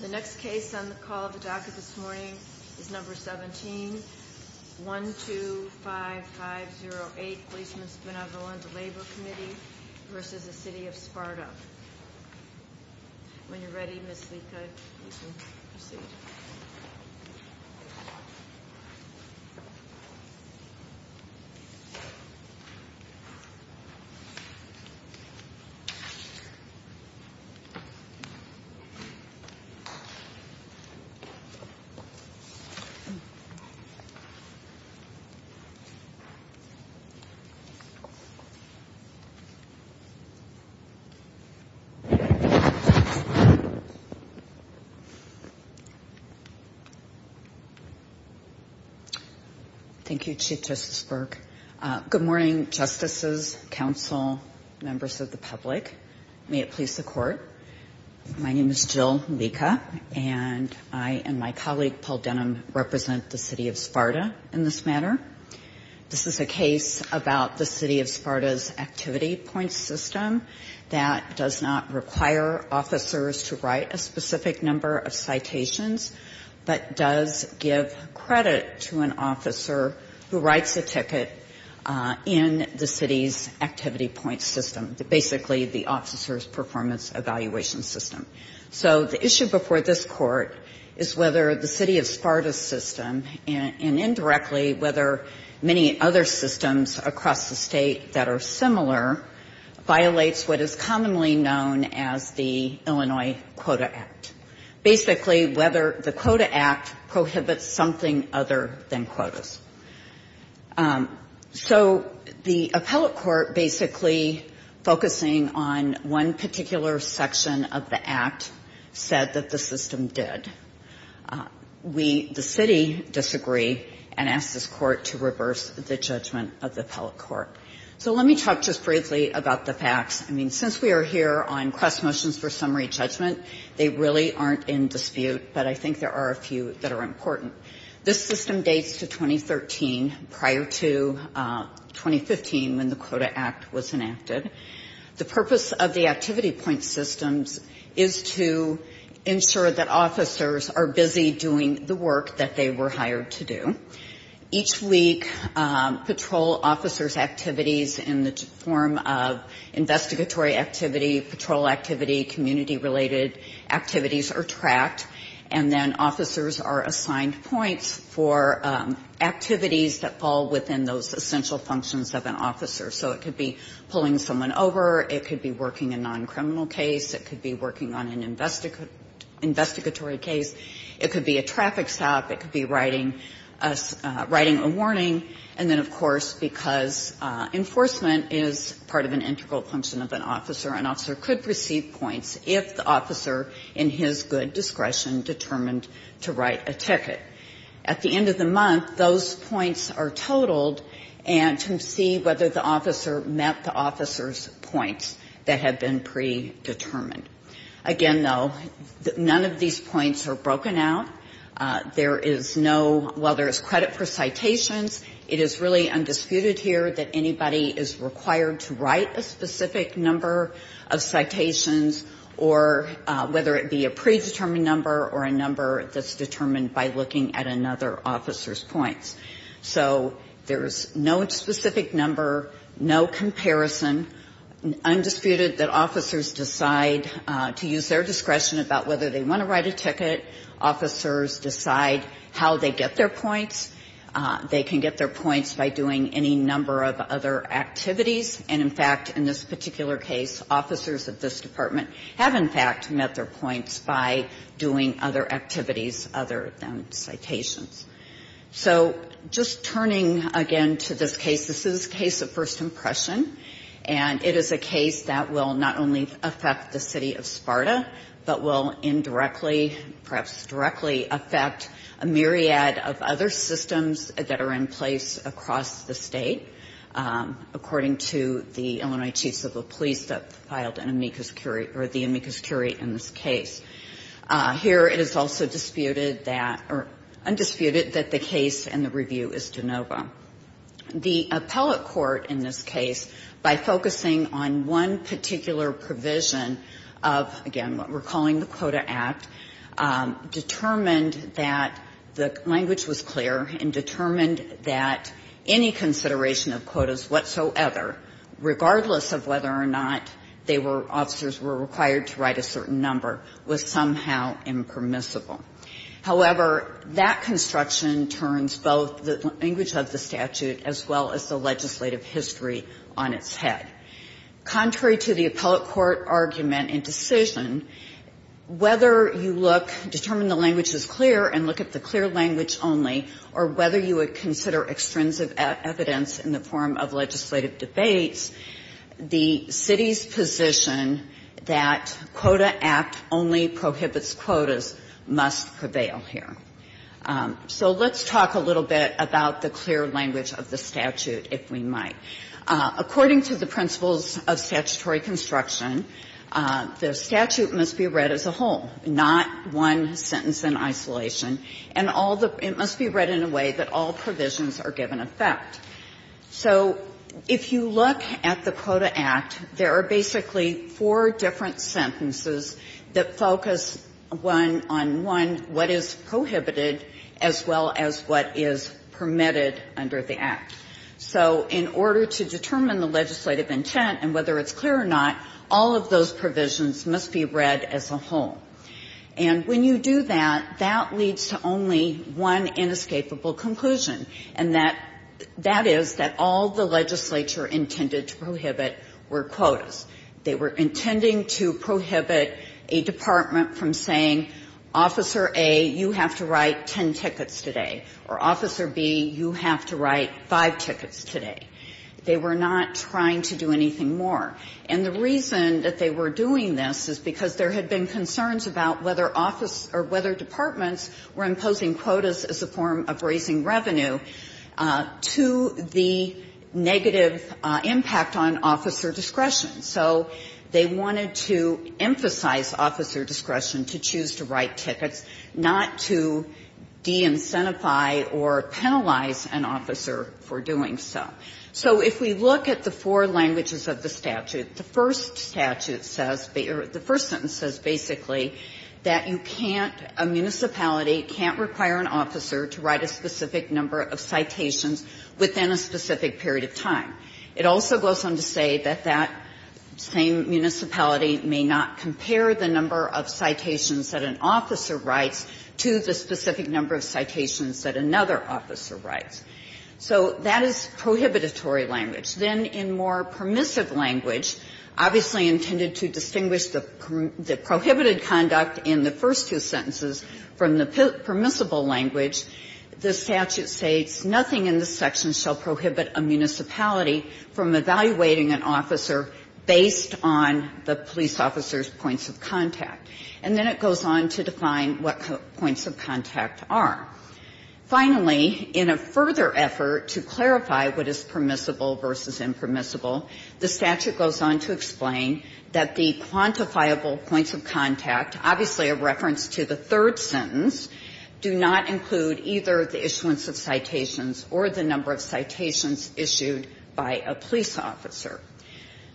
The next case on the call of the docket this morning is number 17, 125508 Policemen's Benevolent Labor Committee v. The City of Sparta. When you're ready, Ms. Lica, you can proceed. Thank you, Chief Justice Burke. Good morning, Justices, Council, members of the public. May it please the Court, my name is Jill Lica, and I and my colleague, Paul Denham, represent the City of Sparta in this matter. This is a case about the City of Sparta's activity points system that does not require officers to write a specific number of citations, but does give credit to an officer who writes a ticket in the city's activity points system, basically the officer's performance evaluation system. So the issue before this Court is whether the City of Sparta system, and indirectly whether many other systems across the state that are similar, violates what is commonly known as the Illinois Quota Act. Basically, whether the Quota Act prohibits something other than quotas. So the appellate court basically focusing on one particular section of the act said that the system did. We, the City, disagree and ask this Court to reverse the judgment of the appellate court. So let me talk just briefly about the facts. I mean, since we are here on cross motions for summary judgment, they really aren't in dispute, but I think there are a few that are important. This system dates to 2013, prior to 2015 when the Quota Act was enacted. The purpose of the activity point systems is to ensure that officers are busy doing the work that they were hired to do. Each week, patrol officers' activities in the form of investigatory activity, patrol activity, community-related activities are tracked. And then officers are assigned points for activities that fall within those essential functions of an officer. So it could be pulling someone over. It could be working a non-criminal case. It could be working on an investigatory case. It could be a traffic stop. It could be writing a warning. And then, of course, because enforcement is part of an integral function of an officer, an officer could receive points if the officer in his good discretion determined to write a ticket. At the end of the month, those points are totaled, and to see whether the officer met the officer's points that had been predetermined. Again, though, none of these points are broken out. There is no, while there is credit for citations, it is really undisputed here that anybody is required to write a specific number of citations or whether it be a predetermined number or a number that's determined by looking at another officer's points. So there is no specific number, no comparison. Undisputed that officers decide to use their discretion about whether they want to write a ticket. Officers decide how they get their points. They can get their points by doing any number of other activities. And, in fact, in this particular case, officers of this department have, in fact, met their points by doing other activities other than citations. So just turning again to this case, this is a case of first impression, and it is a case that will not only affect the City of Sparta, but will indirectly, perhaps directly, affect a myriad of other systems that are in place across the State, according to the Illinois Chief Civil Police that filed an amicus curiae, or the amicus curiae in this case. Here it is also disputed that, or undisputed, that the case and the review is de novo. The appellate court in this case, by focusing on one particular provision of, again, what we're calling the Quota Act, determined that the language was clear and determined that any consideration of quotas whatsoever, regardless of whether or not they were – officers were required to write a certain number, was somehow impermissible. However, that construction turns both the language of the statute as well as the legislative history on its head. Contrary to the appellate court argument and decision, whether you look – determine the language is clear and look at the clear language only, or whether you would consider extrinsic evidence in the form of legislative So let's talk a little bit about the clear language of the statute, if we might. According to the principles of statutory construction, the statute must be read as a whole, not one sentence in isolation. And all the – it must be read in a way that all provisions are given effect. So if you look at the Quota Act, there are basically four different sentences that focus one on one what is prohibited as well as what is permitted under the Act. So in order to determine the legislative intent and whether it's clear or not, all of those provisions must be read as a whole. And when you do that, that leads to only one inescapable conclusion, and that – that is that all the legislature intended to prohibit were quotas. They were intending to prohibit a department from saying Officer A, you have to write ten tickets today, or Officer B, you have to write five tickets today. They were not trying to do anything more. And the reason that they were doing this is because there had been concerns about whether office – or whether departments were imposing quotas as a form of raising revenue to the negative impact on officer discretion. So they wanted to emphasize officer discretion to choose to write tickets, not to de-incentivize or penalize an officer for doing so. So if we look at the four languages of the statute, the first statute says – or the first sentence says basically that you can't – a municipality can't require an officer to write a specific number of citations within a specific period of time. It also goes on to say that that same municipality may not compare the number of citations that an officer writes to the specific number of citations that another officer writes. So that is prohibitory language. Then in more permissive language, obviously intended to distinguish the prohibited conduct in the first two sentences from the permissible language, the statute states nothing in this section shall prohibit a municipality from evaluating an officer based on the police officer's points of contact. And then it goes on to define what points of contact are. Finally, in a further effort to clarify what is permissible versus impermissible, the statute goes on to explain that the quantifiable points of contact, obviously a reference to the third sentence, do not include either the issuance of citations or the number of citations issued by a police officer.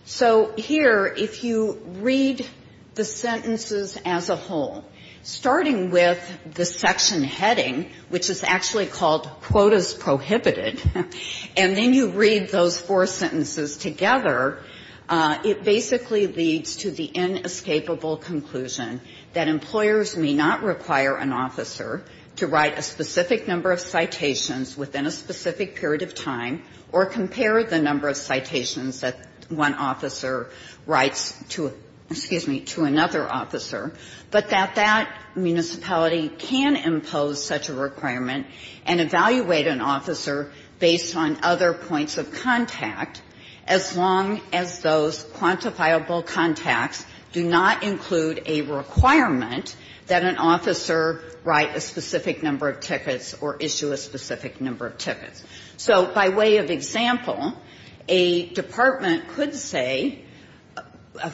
So here, if you read the sentences as a whole, starting with the section heading, which is actually called quotas prohibited, and then you read those four sentences together, it basically leads to the inescapable conclusion that employers may not require an officer to write a specific number of citations within a specific period of time or compare the number of citations that one officer writes to, excuse me, to another officer, but that that municipality can impose such a requirement and evaluate an officer based on other points of contact, as opposed to writing a citation as long as those quantifiable contacts do not include a requirement that an officer write a specific number of tickets or issue a specific number of tickets. So by way of example, a department could say,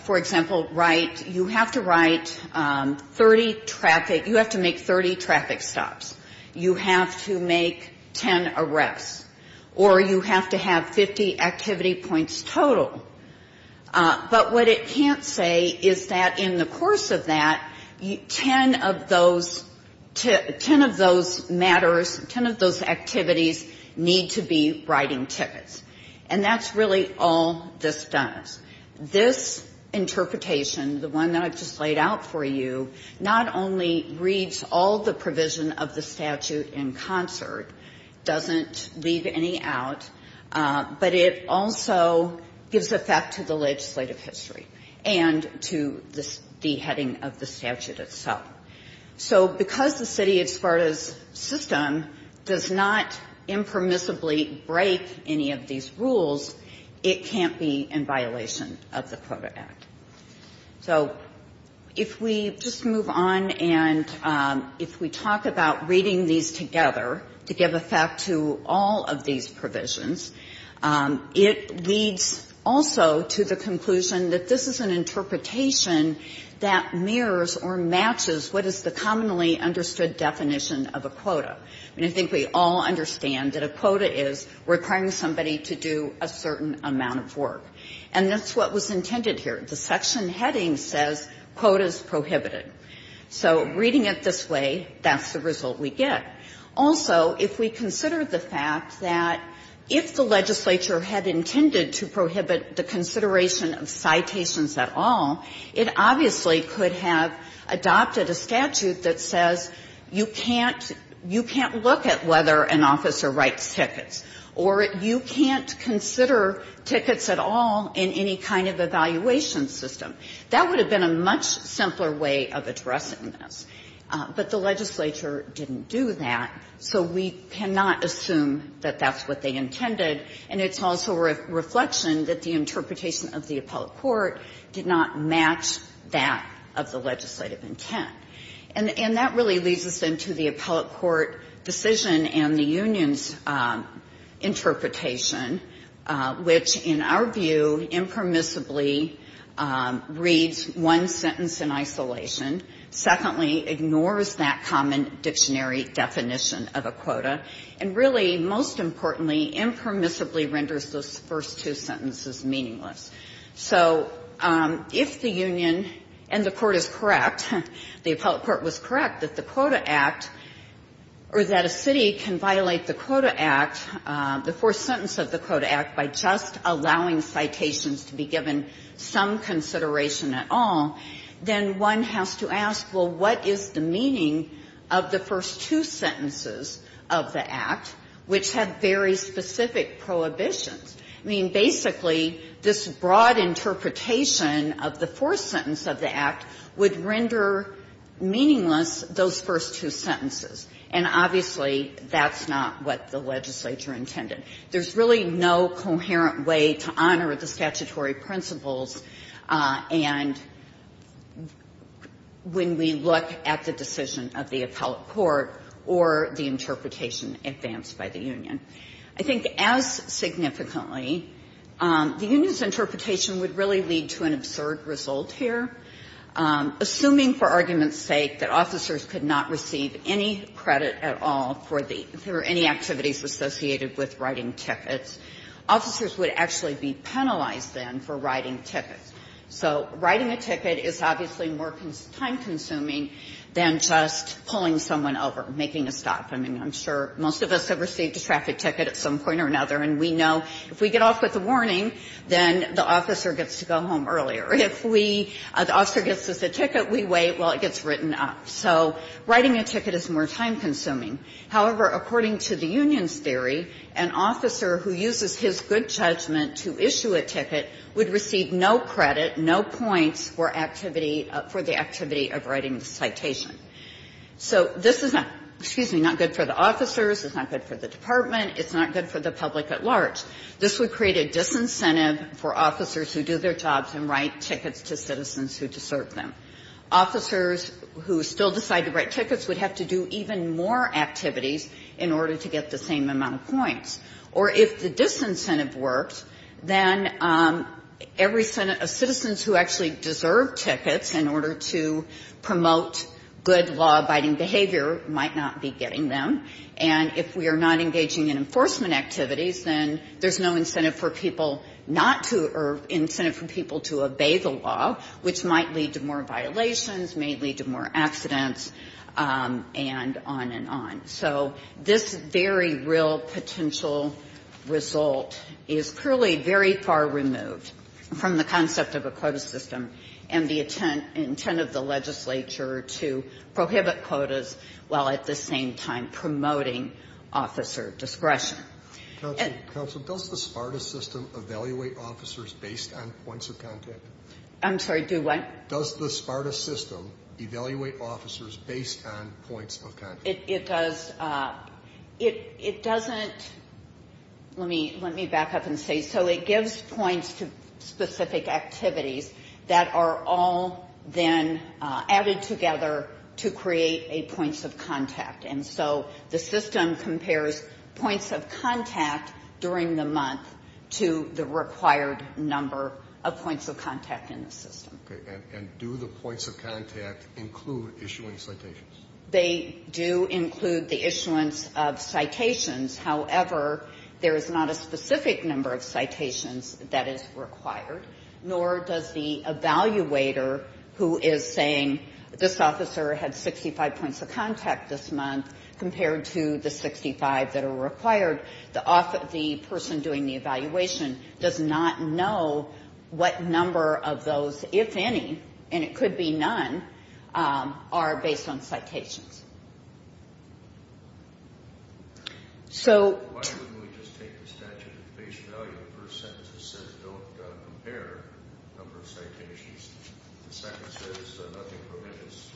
for example, write, you have to write 30 traffic, you have to make 30 traffic stops, you have to make 10 arrests, or you have to have 50 activity points total. But what it can't say is that in the course of that, 10 of those matters, 10 of those activities need to be writing tickets. And that's really all this does. This interpretation, the one that I've just laid out for you, not only reads all the provision of the statute in concert, doesn't leave any out, but it also gives effect to the legislative history and to the heading of the statute itself. So because the city of Sparta's system does not impermissibly break any of these rules, it can't be in violation of the Proto Act. So if we just move on and if we talk about reading these together to give effect to all of these provisions, it leads also to the conclusion that this is an interpretation that mirrors or matches what is the commonly understood definition of a quota. And I think we all understand that a quota is requiring somebody to do a certain amount of work. And that's what was intended here. The section heading says quotas prohibited. So reading it this way, that's the result we get. Also, if we consider the fact that if the legislature had intended to prohibit the consideration of citations at all, it obviously could have adopted a statute that says you can't look at whether an officer writes tickets, or you can't consider tickets at all in any kind of evaluation system. That would have been a much simpler way of addressing this. But the legislature didn't do that, so we cannot assume that that's what they intended. And it's also a reflection that the interpretation of the appellate court did not match that of the legislative intent. And that really leads us into the appellate court decision and the union's interpretation, which, in our view, impermissibly reads one sentence in isolation. Secondly, ignores that common dictionary definition of a quota. And really, most importantly, impermissibly renders those first two sentences meaningless. So if the union and the court is correct, the appellate court was correct that the Quota Act, or that a city can violate the Quota Act, the fourth sentence of the Quota Act, by just allowing citations to be given some consideration at all, then one has to ask, well, what is the meaning of the first two sentences of the Act, which have very specific prohibitions? I mean, basically, this broad interpretation of the fourth sentence of the Act would render meaningless those first two sentences. And obviously, that's not what the legislature intended. There's really no coherent way to honor the statutory principles, and when we look at the decision of the appellate court or the interpretation advanced by the union. I think as significantly, the union's interpretation would really lead to an absurd result here. Assuming, for argument's sake, that officers could not receive any credit at all for the any activities associated with writing tickets, officers would actually be penalized then for writing tickets. So writing a ticket is obviously more time consuming than just pulling someone over, making a stop. I mean, I'm sure most of us have received a traffic ticket at some point or another, and we know if we get off with a warning, then the officer gets to go home earlier. If we, the officer gets us a ticket, we wait while it gets written up. So writing a ticket is more time consuming. However, according to the union's theory, an officer who uses his good judgment to issue a ticket would receive no credit, no points for activity, for the disincentive for officers who do their jobs and write tickets to citizens who deserve them. Officers who still decide to write tickets would have to do even more activities in order to get the same amount of points. Or if the disincentive works, then every citizens who actually deserve tickets in order to promote good law-abiding behavior might not be getting them. And if we are not engaging in enforcement activities, then there's no incentive for people not to, or incentive for people to obey the law, which might lead to more violations, may lead to more accidents, and on and on. So this very real potential result is clearly very far removed from the concept of a quota system and the intent of the legislature to prohibit quotas while at the same time promoting officer discretion. Counsel, does the SPARTA system evaluate officers based on points of contact? I'm sorry, do what? Does the SPARTA system evaluate officers based on points of contact? It does. It doesn't, let me back up and say, so it gives points to specific activities that are all then added together to create a points of contact. And so the system compares points of contact during the month to the required number of points of contact in the system. And do the points of contact include issuing citations? They do include the issuance of citations. However, there is not a specific number of citations that is required, nor does the evaluator who is saying, this officer had 65 points of contact this month, compared to the 65 that are required. The person doing the evaluation does not know what number of those, if any, and it could be none, are based on citations. So... Why wouldn't we just take the statute at face value, the first sentence that says don't compare number of citations, the second says nothing prohibits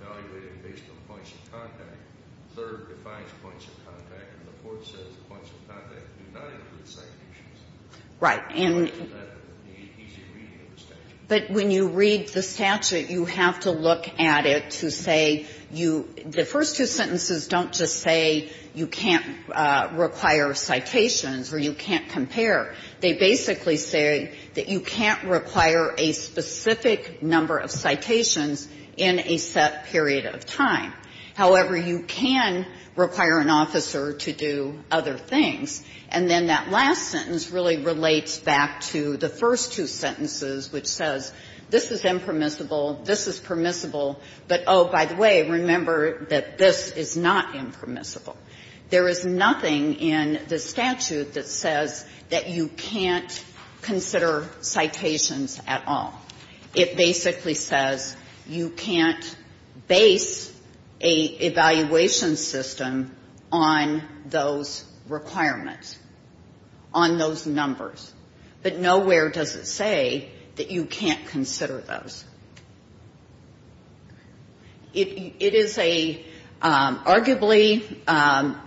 evaluating based on points of contact, the third defines points of contact, and the fourth says points of contact do not include citations. Right. And... So why isn't that the easy reading of the statute? But when you read the statute, you have to look at it to say you, the first two sentences don't just say you can't require citations or you can't compare. They basically say that you can't require a specific number of citations in a set period of time. However, you can require an officer to do other things. And then that last sentence really relates back to the first two sentences, which says this is impermissible, this is permissible, but, oh, by the way, remember that this is not impermissible. There is nothing in the statute that says that you can't consider citations at all. It basically says you can't base an evaluation system on those requirements, on those numbers, but nowhere does it say that you can't consider those. It is a, arguably,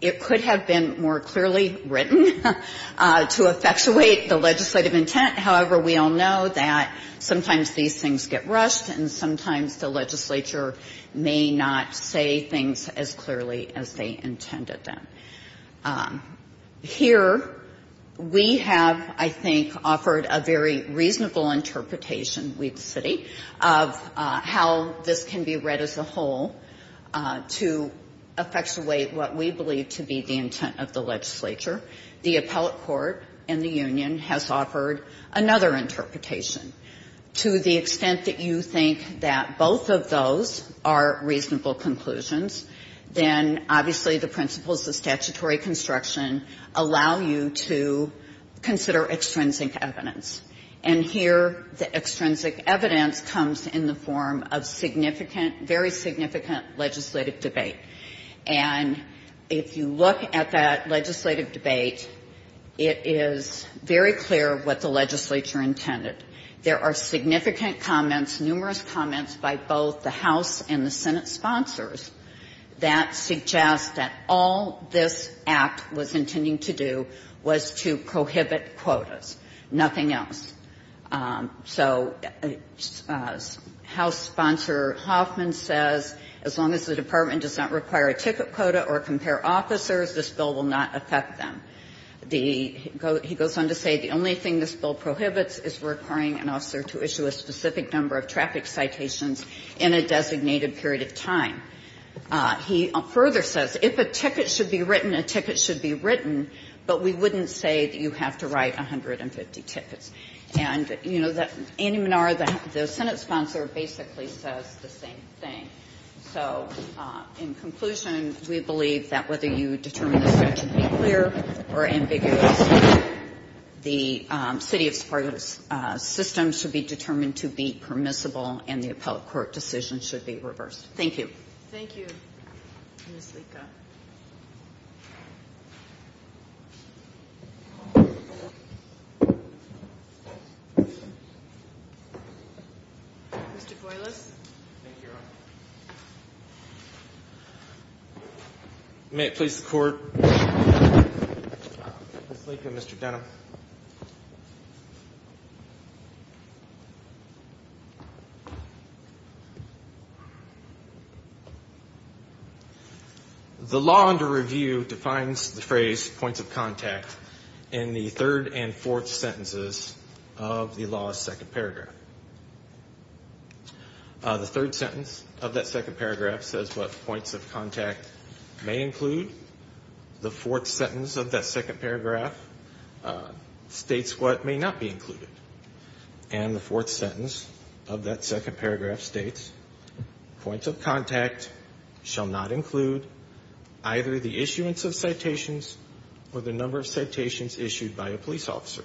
it could have been more clearly written to effectuate the legislative intent. However, we all know that sometimes these things get rushed and sometimes the legislature may not say things as clearly as they intended them. Here, we have, I think, offered a very reasonable interpretation, we at the city, of how this can be read as a whole to effectuate what we believe to be the intent of the legislature. The appellate court and the union has offered another interpretation. To the extent that you think that both of those are reasonable conclusions, then obviously the principles of statutory construction allow you to consider extrinsic evidence. And here the extrinsic evidence comes in the form of significant, very significant legislative debate. And if you look at that legislative debate, it is very clear what the legislature intended. There are two things in the bill, both the House and the Senate sponsors, that suggest that all this act was intending to do was to prohibit quotas, nothing else. So House sponsor Hoffman says as long as the department does not require a ticket quota or compare officers, this bill will not affect them. He goes on to say the only thing this bill requires is a ticket quota in a designated period of time. He further says if a ticket should be written, a ticket should be written, but we wouldn't say that you have to write 150 tickets. And, you know, Andy Menard, the Senate sponsor, basically says the same thing. So in conclusion, we believe that whether you determine this act to be clear or ambiguous, the city of Sparta's system should be determined to be permissible, and the appellate court decision should be reversed. Thank you. Thank you, Ms. Lica. Mr. Boiles. Thank you, Your Honor. May it please the Court? Ms. Lica, Mr. Denham. The law under review defines the phrase points of contact in the third and fourth sentence. The third sentence of that second paragraph says what points of contact may include. The fourth sentence of that second paragraph states what may not be included. And the fourth sentence of that second paragraph states points of contact shall not include either the issuance of citations or the number of citations issued by a police officer.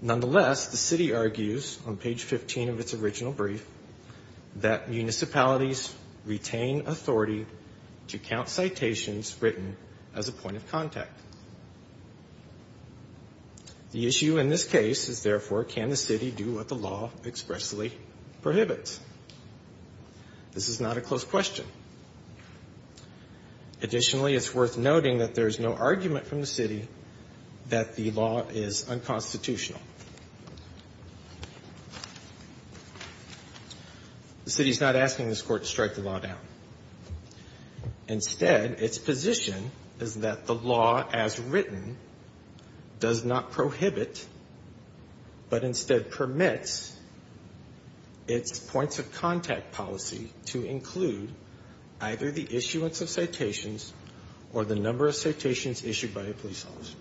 Nonetheless, the city argues, on page 15 of its original brief, that municipalities retain authority to count citations written as a point of contact. The issue in this case is, therefore, can the city do what the law expressly prohibits? This is not a close question. Additionally, it's worth noting that there's no argument from the city that the law is unconstitutional. The city is not asking this Court to strike the law down. Instead, its position is that the law as written does not prohibit, but instead permits, its points of contact policy to include either the issuance of citations or the number of citations issued by a police officer.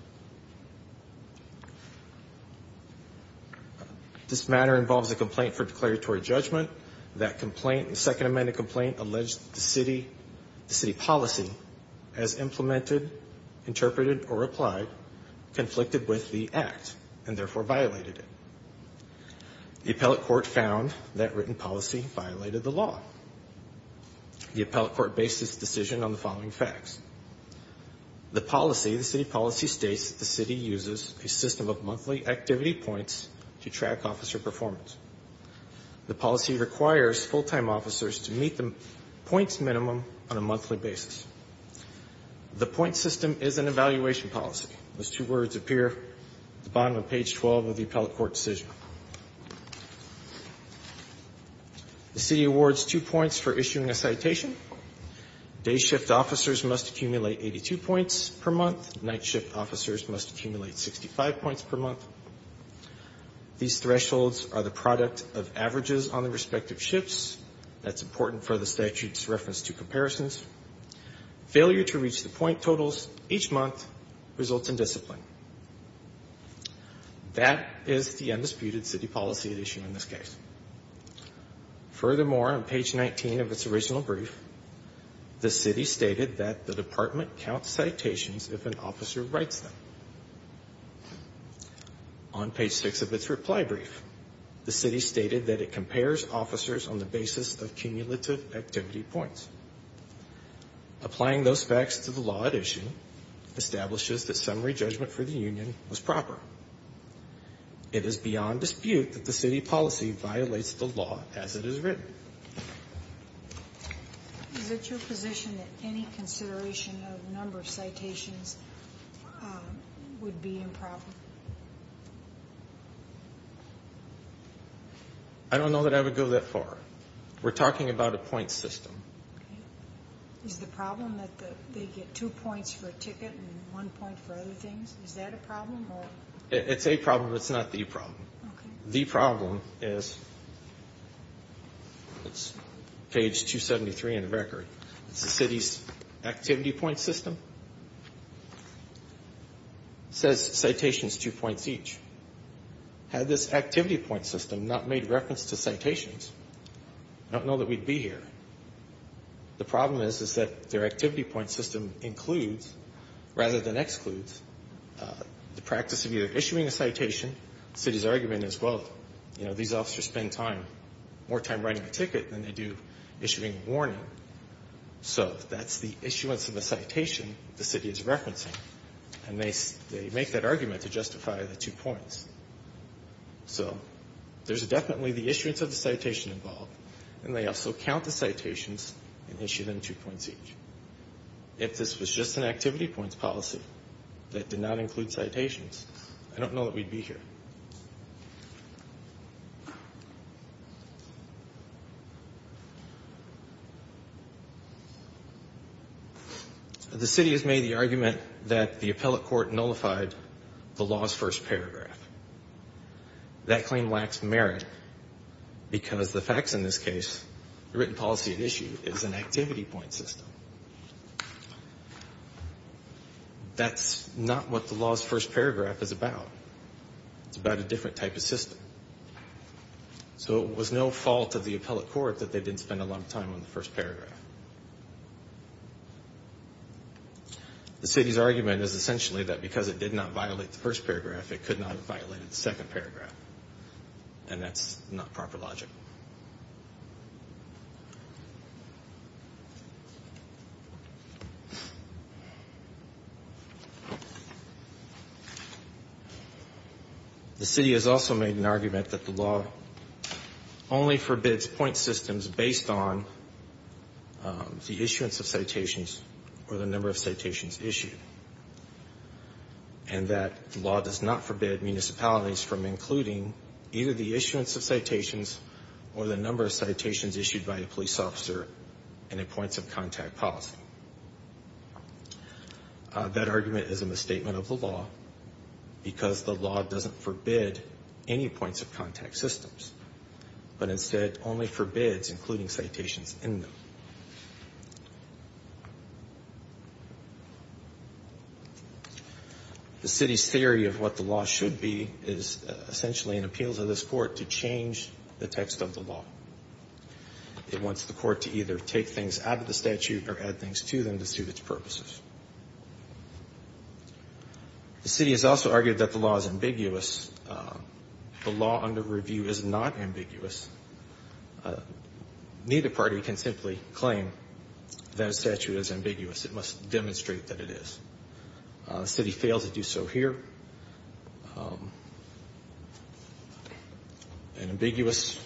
This matter involves a complaint for declaratory judgment. That complaint, the second amended complaint, alleged the city policy as implemented, interpreted, or applied, conflicted with the policy, violated the law. The appellate court based its decision on the following facts. The policy, the city policy states that the city uses a system of monthly activity points to track officer performance. The policy requires full-time officers to meet the points minimum on a monthly basis. The point system is an evaluation policy. Those two words appear at the bottom of page 12 of the appellate court decision. The city awards two points for issuing a citation. Day shift officers must accumulate 82 points per month. Night shift officers must accumulate 65 points per month. These thresholds are the product of averages on the respective ships. That's important for the statute's reference to comparisons. Failure to reach the point totals each month results in discipline. That is the undisputed city policy at issue in this case. The city awards two points for issuing a citation. The city states that the city counts citations if an officer writes them. On page 6 of its reply brief, the city stated that it compares officers on the basis of cumulative activity points. Applying those facts to the law at issue establishes that summary judgment for the union was proper. It is beyond dispute that the city policy violates the law as it is stated. Is it your position that any consideration of number of citations would be improper? I don't know that I would go that far. We're talking about a point system. Is the problem that they get two points for a ticket and one point for other things? Is that a problem? It's a problem, but it's not the problem. The problem is, it's page 273 in the record, it's the city's activity point system. It says citations, two points each. Had this activity point system not made reference to citations, I don't know that we'd be here. The problem is that their activity point system includes, rather than excludes, the practice of citations. The practice of citations is the practice of either issuing a citation, the city's argument is, well, you know, these officers spend time, more time writing a ticket than they do issuing a warning. So that's the issuance of a citation the city is referencing. And they make that argument to justify the two points. So there's definitely the issuance of the citation involved, and they also count the citations and issue them two points each. I don't know that we'd be here. The city has made the argument that the appellate court nullified the law's first paragraph. That claim lacks merit, because the facts in this case, the written policy at issue, is an activity point system. That's not what the law's first paragraph is about. It's about a different type of system. So it was no fault of the appellate court that they didn't spend a lot of time on the first paragraph. The city's argument is essentially that because it did not violate the first paragraph, it could not have violated the second paragraph. And that's not proper logic. The city has also made an argument that the law only forbids point systems based on the issuance of citations or the number of citations issued. And that the law does not forbid municipalities from including either the issuance of citations or the number of citations issued. That argument is a misstatement of the law, because the law doesn't forbid any points of contact systems, but instead only forbids including citations in them. The city's theory of what the law should be is essentially an appeal to this court to change the text of the law. It wants the city to be able to provide things to them to suit its purposes. The city has also argued that the law is ambiguous. The law under review is not ambiguous. Neither party can simply claim that a statute is ambiguous. It must demonstrate that it is. The city failed to do so here. An ambiguous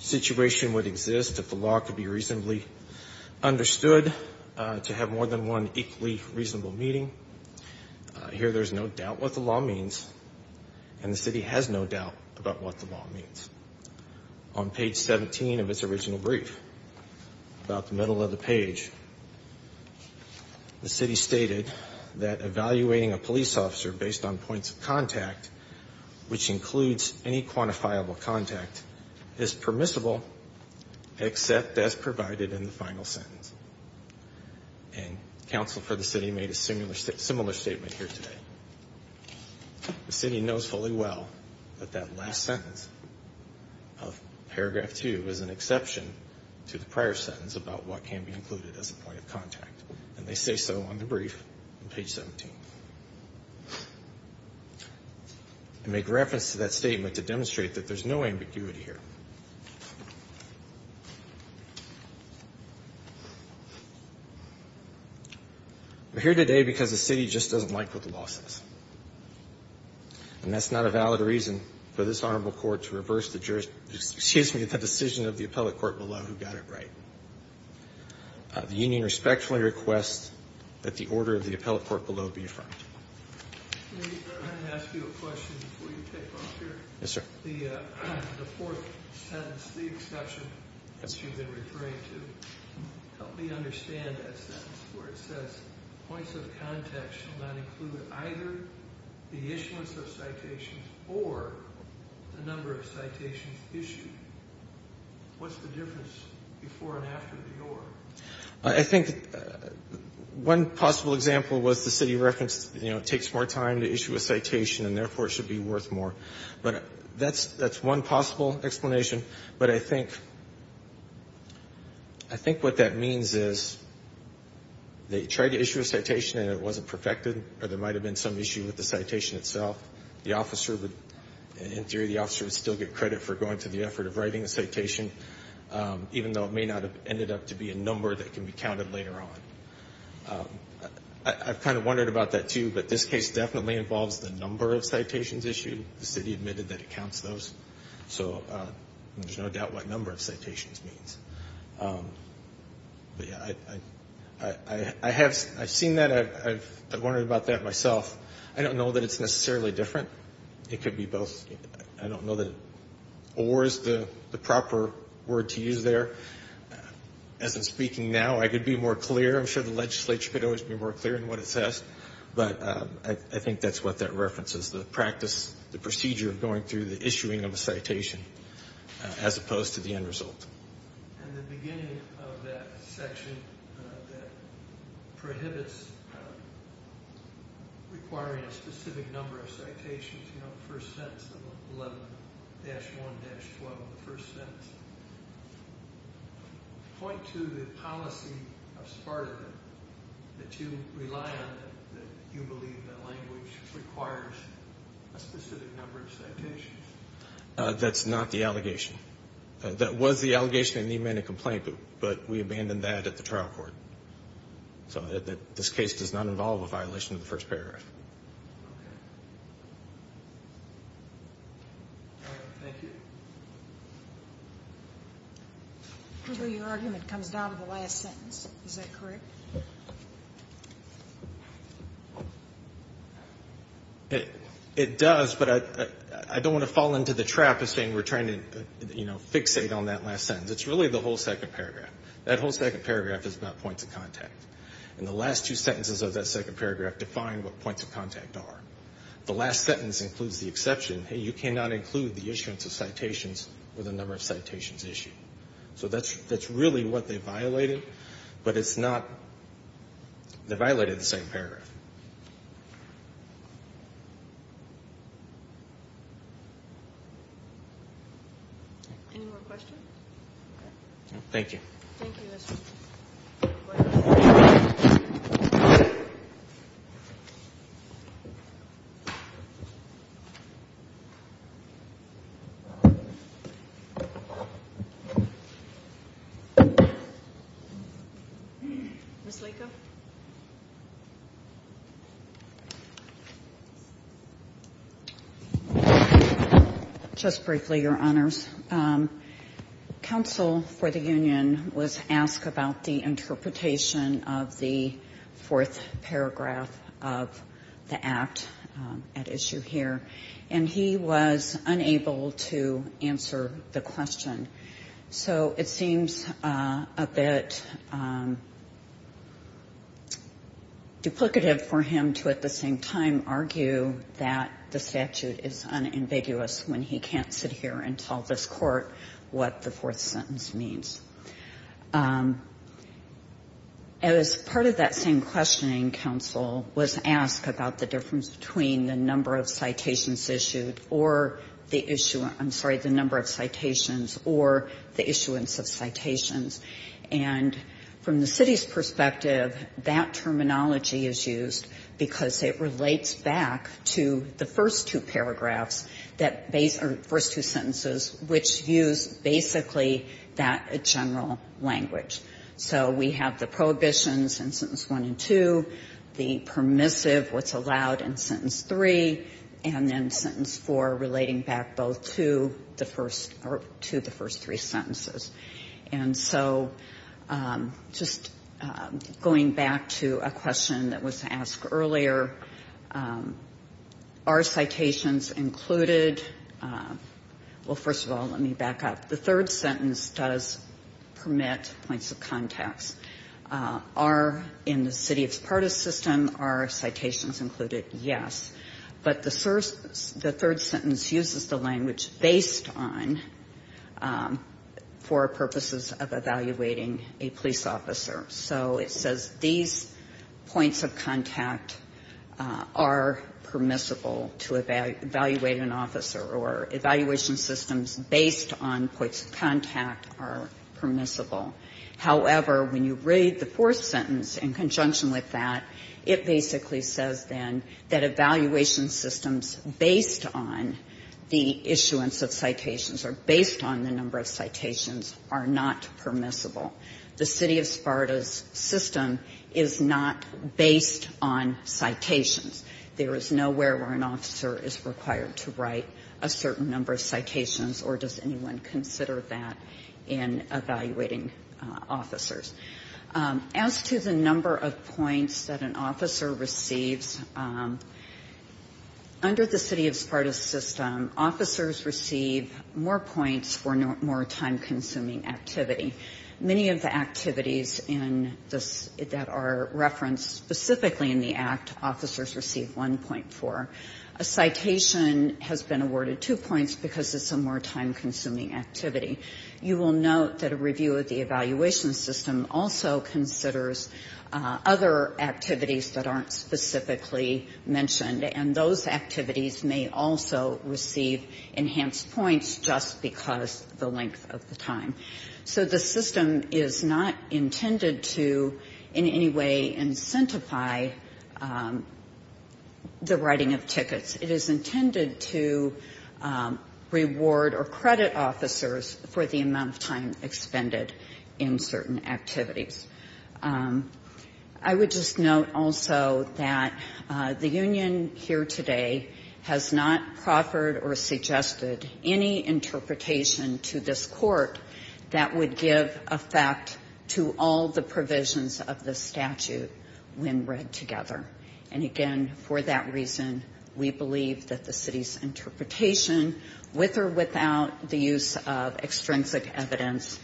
situation would exist if the law could be reasonably reasonable. Understood to have more than one equally reasonable meeting. Here there's no doubt what the law means. And the city has no doubt about what the law means. On page 17 of its original brief, about the middle of the page, the city stated that evaluating a police officer based on points of contact, which includes any quantifiable contact, is permissible except as provided in the final sentence. And counsel for the city made a similar statement here today. The city knows fully well that that last sentence of paragraph 2 is an exception to the prior sentence about what can be included as a point of contact. And they say so on the brief on page 17. And make reference to that statement to demonstrate that there's no ambiguity here. We're here today because the city just doesn't like what the law says. And that's not a valid reason for this Honorable Court to reverse the decision of the appellate court below who got it right. The union respectfully requests that the order of the appellate court below be affirmed. Yes, sir. I think one possible example was the city referenced, you know, it takes more time to issue a citation and therefore it should be worth more. But that's one possible explanation. But I think what that means is that the citation should not include the number of citations. And the reason for that is, they tried to issue a citation and it wasn't perfected. Or there might have been some issue with the citation itself. The officer would, in theory, the officer would still get credit for going to the effort of writing a citation, even though it may not have ended up to be a number that can be counted later on. I've kind of wondered about that too, but this case definitely involves the number of citations issue. The city admitted that it counts those. So there's no doubt what number of citations means. I have seen that. I've wondered about that myself. I don't know that it's necessarily different. It could be both. I don't know that or is the proper word to use there. As I'm speaking now, I could be more clear. I'm sure the legislature could always be more clear in what it says. But I think that's what that references, the practice, the procedure of going through the issuing of a citation. And the beginning of that section that prohibits requiring a specific number of citations, you know, the first sentence of 11-1-12, the first sentence, point to the policy of Sparta that you rely on, that you believe that language requires a specific number of citations. And that's what we did. We didn't make a complaint, but we abandoned that at the trial court. So this case does not involve a violation of the first paragraph. Thank you. Your argument comes down to the last sentence. Is that correct? It does, but I don't want to fall into the trap of saying we're trying to fixate on that last sentence. It's really the whole second paragraph. That whole second paragraph is about points of contact. And the last two sentences of that second paragraph define what points of contact are. The last sentence includes the exception, hey, you cannot include the issuance of citations with a number of citations issued. So that's really what they violated, but it's not, they violated the second paragraph. Any more questions? Thank you. Thank you, Mr. Chief. Ms. Laco? Just briefly, Your Honors. Council for the Union was asked about the interpretation of the fourth paragraph of the Act at issue here, and he was unable to answer the question. So it seems a bit, I don't know, a little bit confusing to me. It's duplicative for him to at the same time argue that the statute is unambiguous when he can't sit here and tell this court what the fourth sentence means. As part of that same questioning, Council was asked about the difference between the number of citations issued or the issuance, I'm sorry, the number of citations, or the issuance of citations. And from the city's perspective, it seems a little bit confusing to me that that terminology is used because it relates back to the first two paragraphs, or first two sentences, which use basically that general language. So we have the prohibitions in Sentence 1 and 2, the permissive, what's allowed in Sentence 3, and then Sentence 4 relating back both to the first, or to the first three sentences. And so just going back to a question that was asked earlier, are citations included? Well, first of all, let me back up. The third sentence does permit points of context. Are, in the city of Zapata system, are citations included? Yes. But the third sentence uses the language based on, for example, the citations that are in the city of Zapata for purposes of evaluating a police officer. So it says these points of contact are permissible to evaluate an officer, or evaluation systems based on points of contact are permissible. However, when you read the fourth sentence in conjunction with that, it basically says then that evaluation systems based on the issuance of citations, or based on the number of citations, are not permissible. The city of Zapata system is not based on citations. There is nowhere where an officer is required to write a certain number of citations, or does anyone consider that in evaluating officers. As to the number of points that an officer receives, under the city of Zapata system, officers receive more points for more time-consuming activity. Many of the activities that are referenced specifically in the Act, officers receive 1.4. A citation has been awarded two points because it's a more time-consuming activity. You will note that a review of the evaluation system also considers other activities that aren't specifically mentioned, and those activities may also receive enhanced points just because of the length of the time. So the system is not intended to in any way incentivize the writing of tickets. It is intended to reward or credit officers for the amount of time expended in certain activities. I would just note also that the union here today has not proffered or seduced any of the citations that are mentioned in the Act. We have not suggested any interpretation to this Court that would give effect to all the provisions of the statute when read together. And again, for that reason, we believe that the city's interpretation, with or without the use of extrinsic evidence,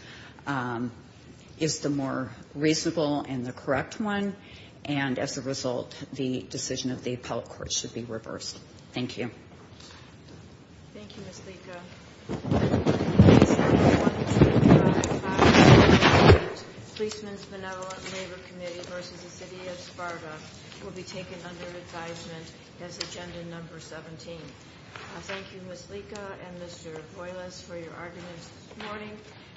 is the more reasonable and the correct one, and as a result, the decision of the appellate court should be an unconstitutional one. Thank you, Ms. Lyka.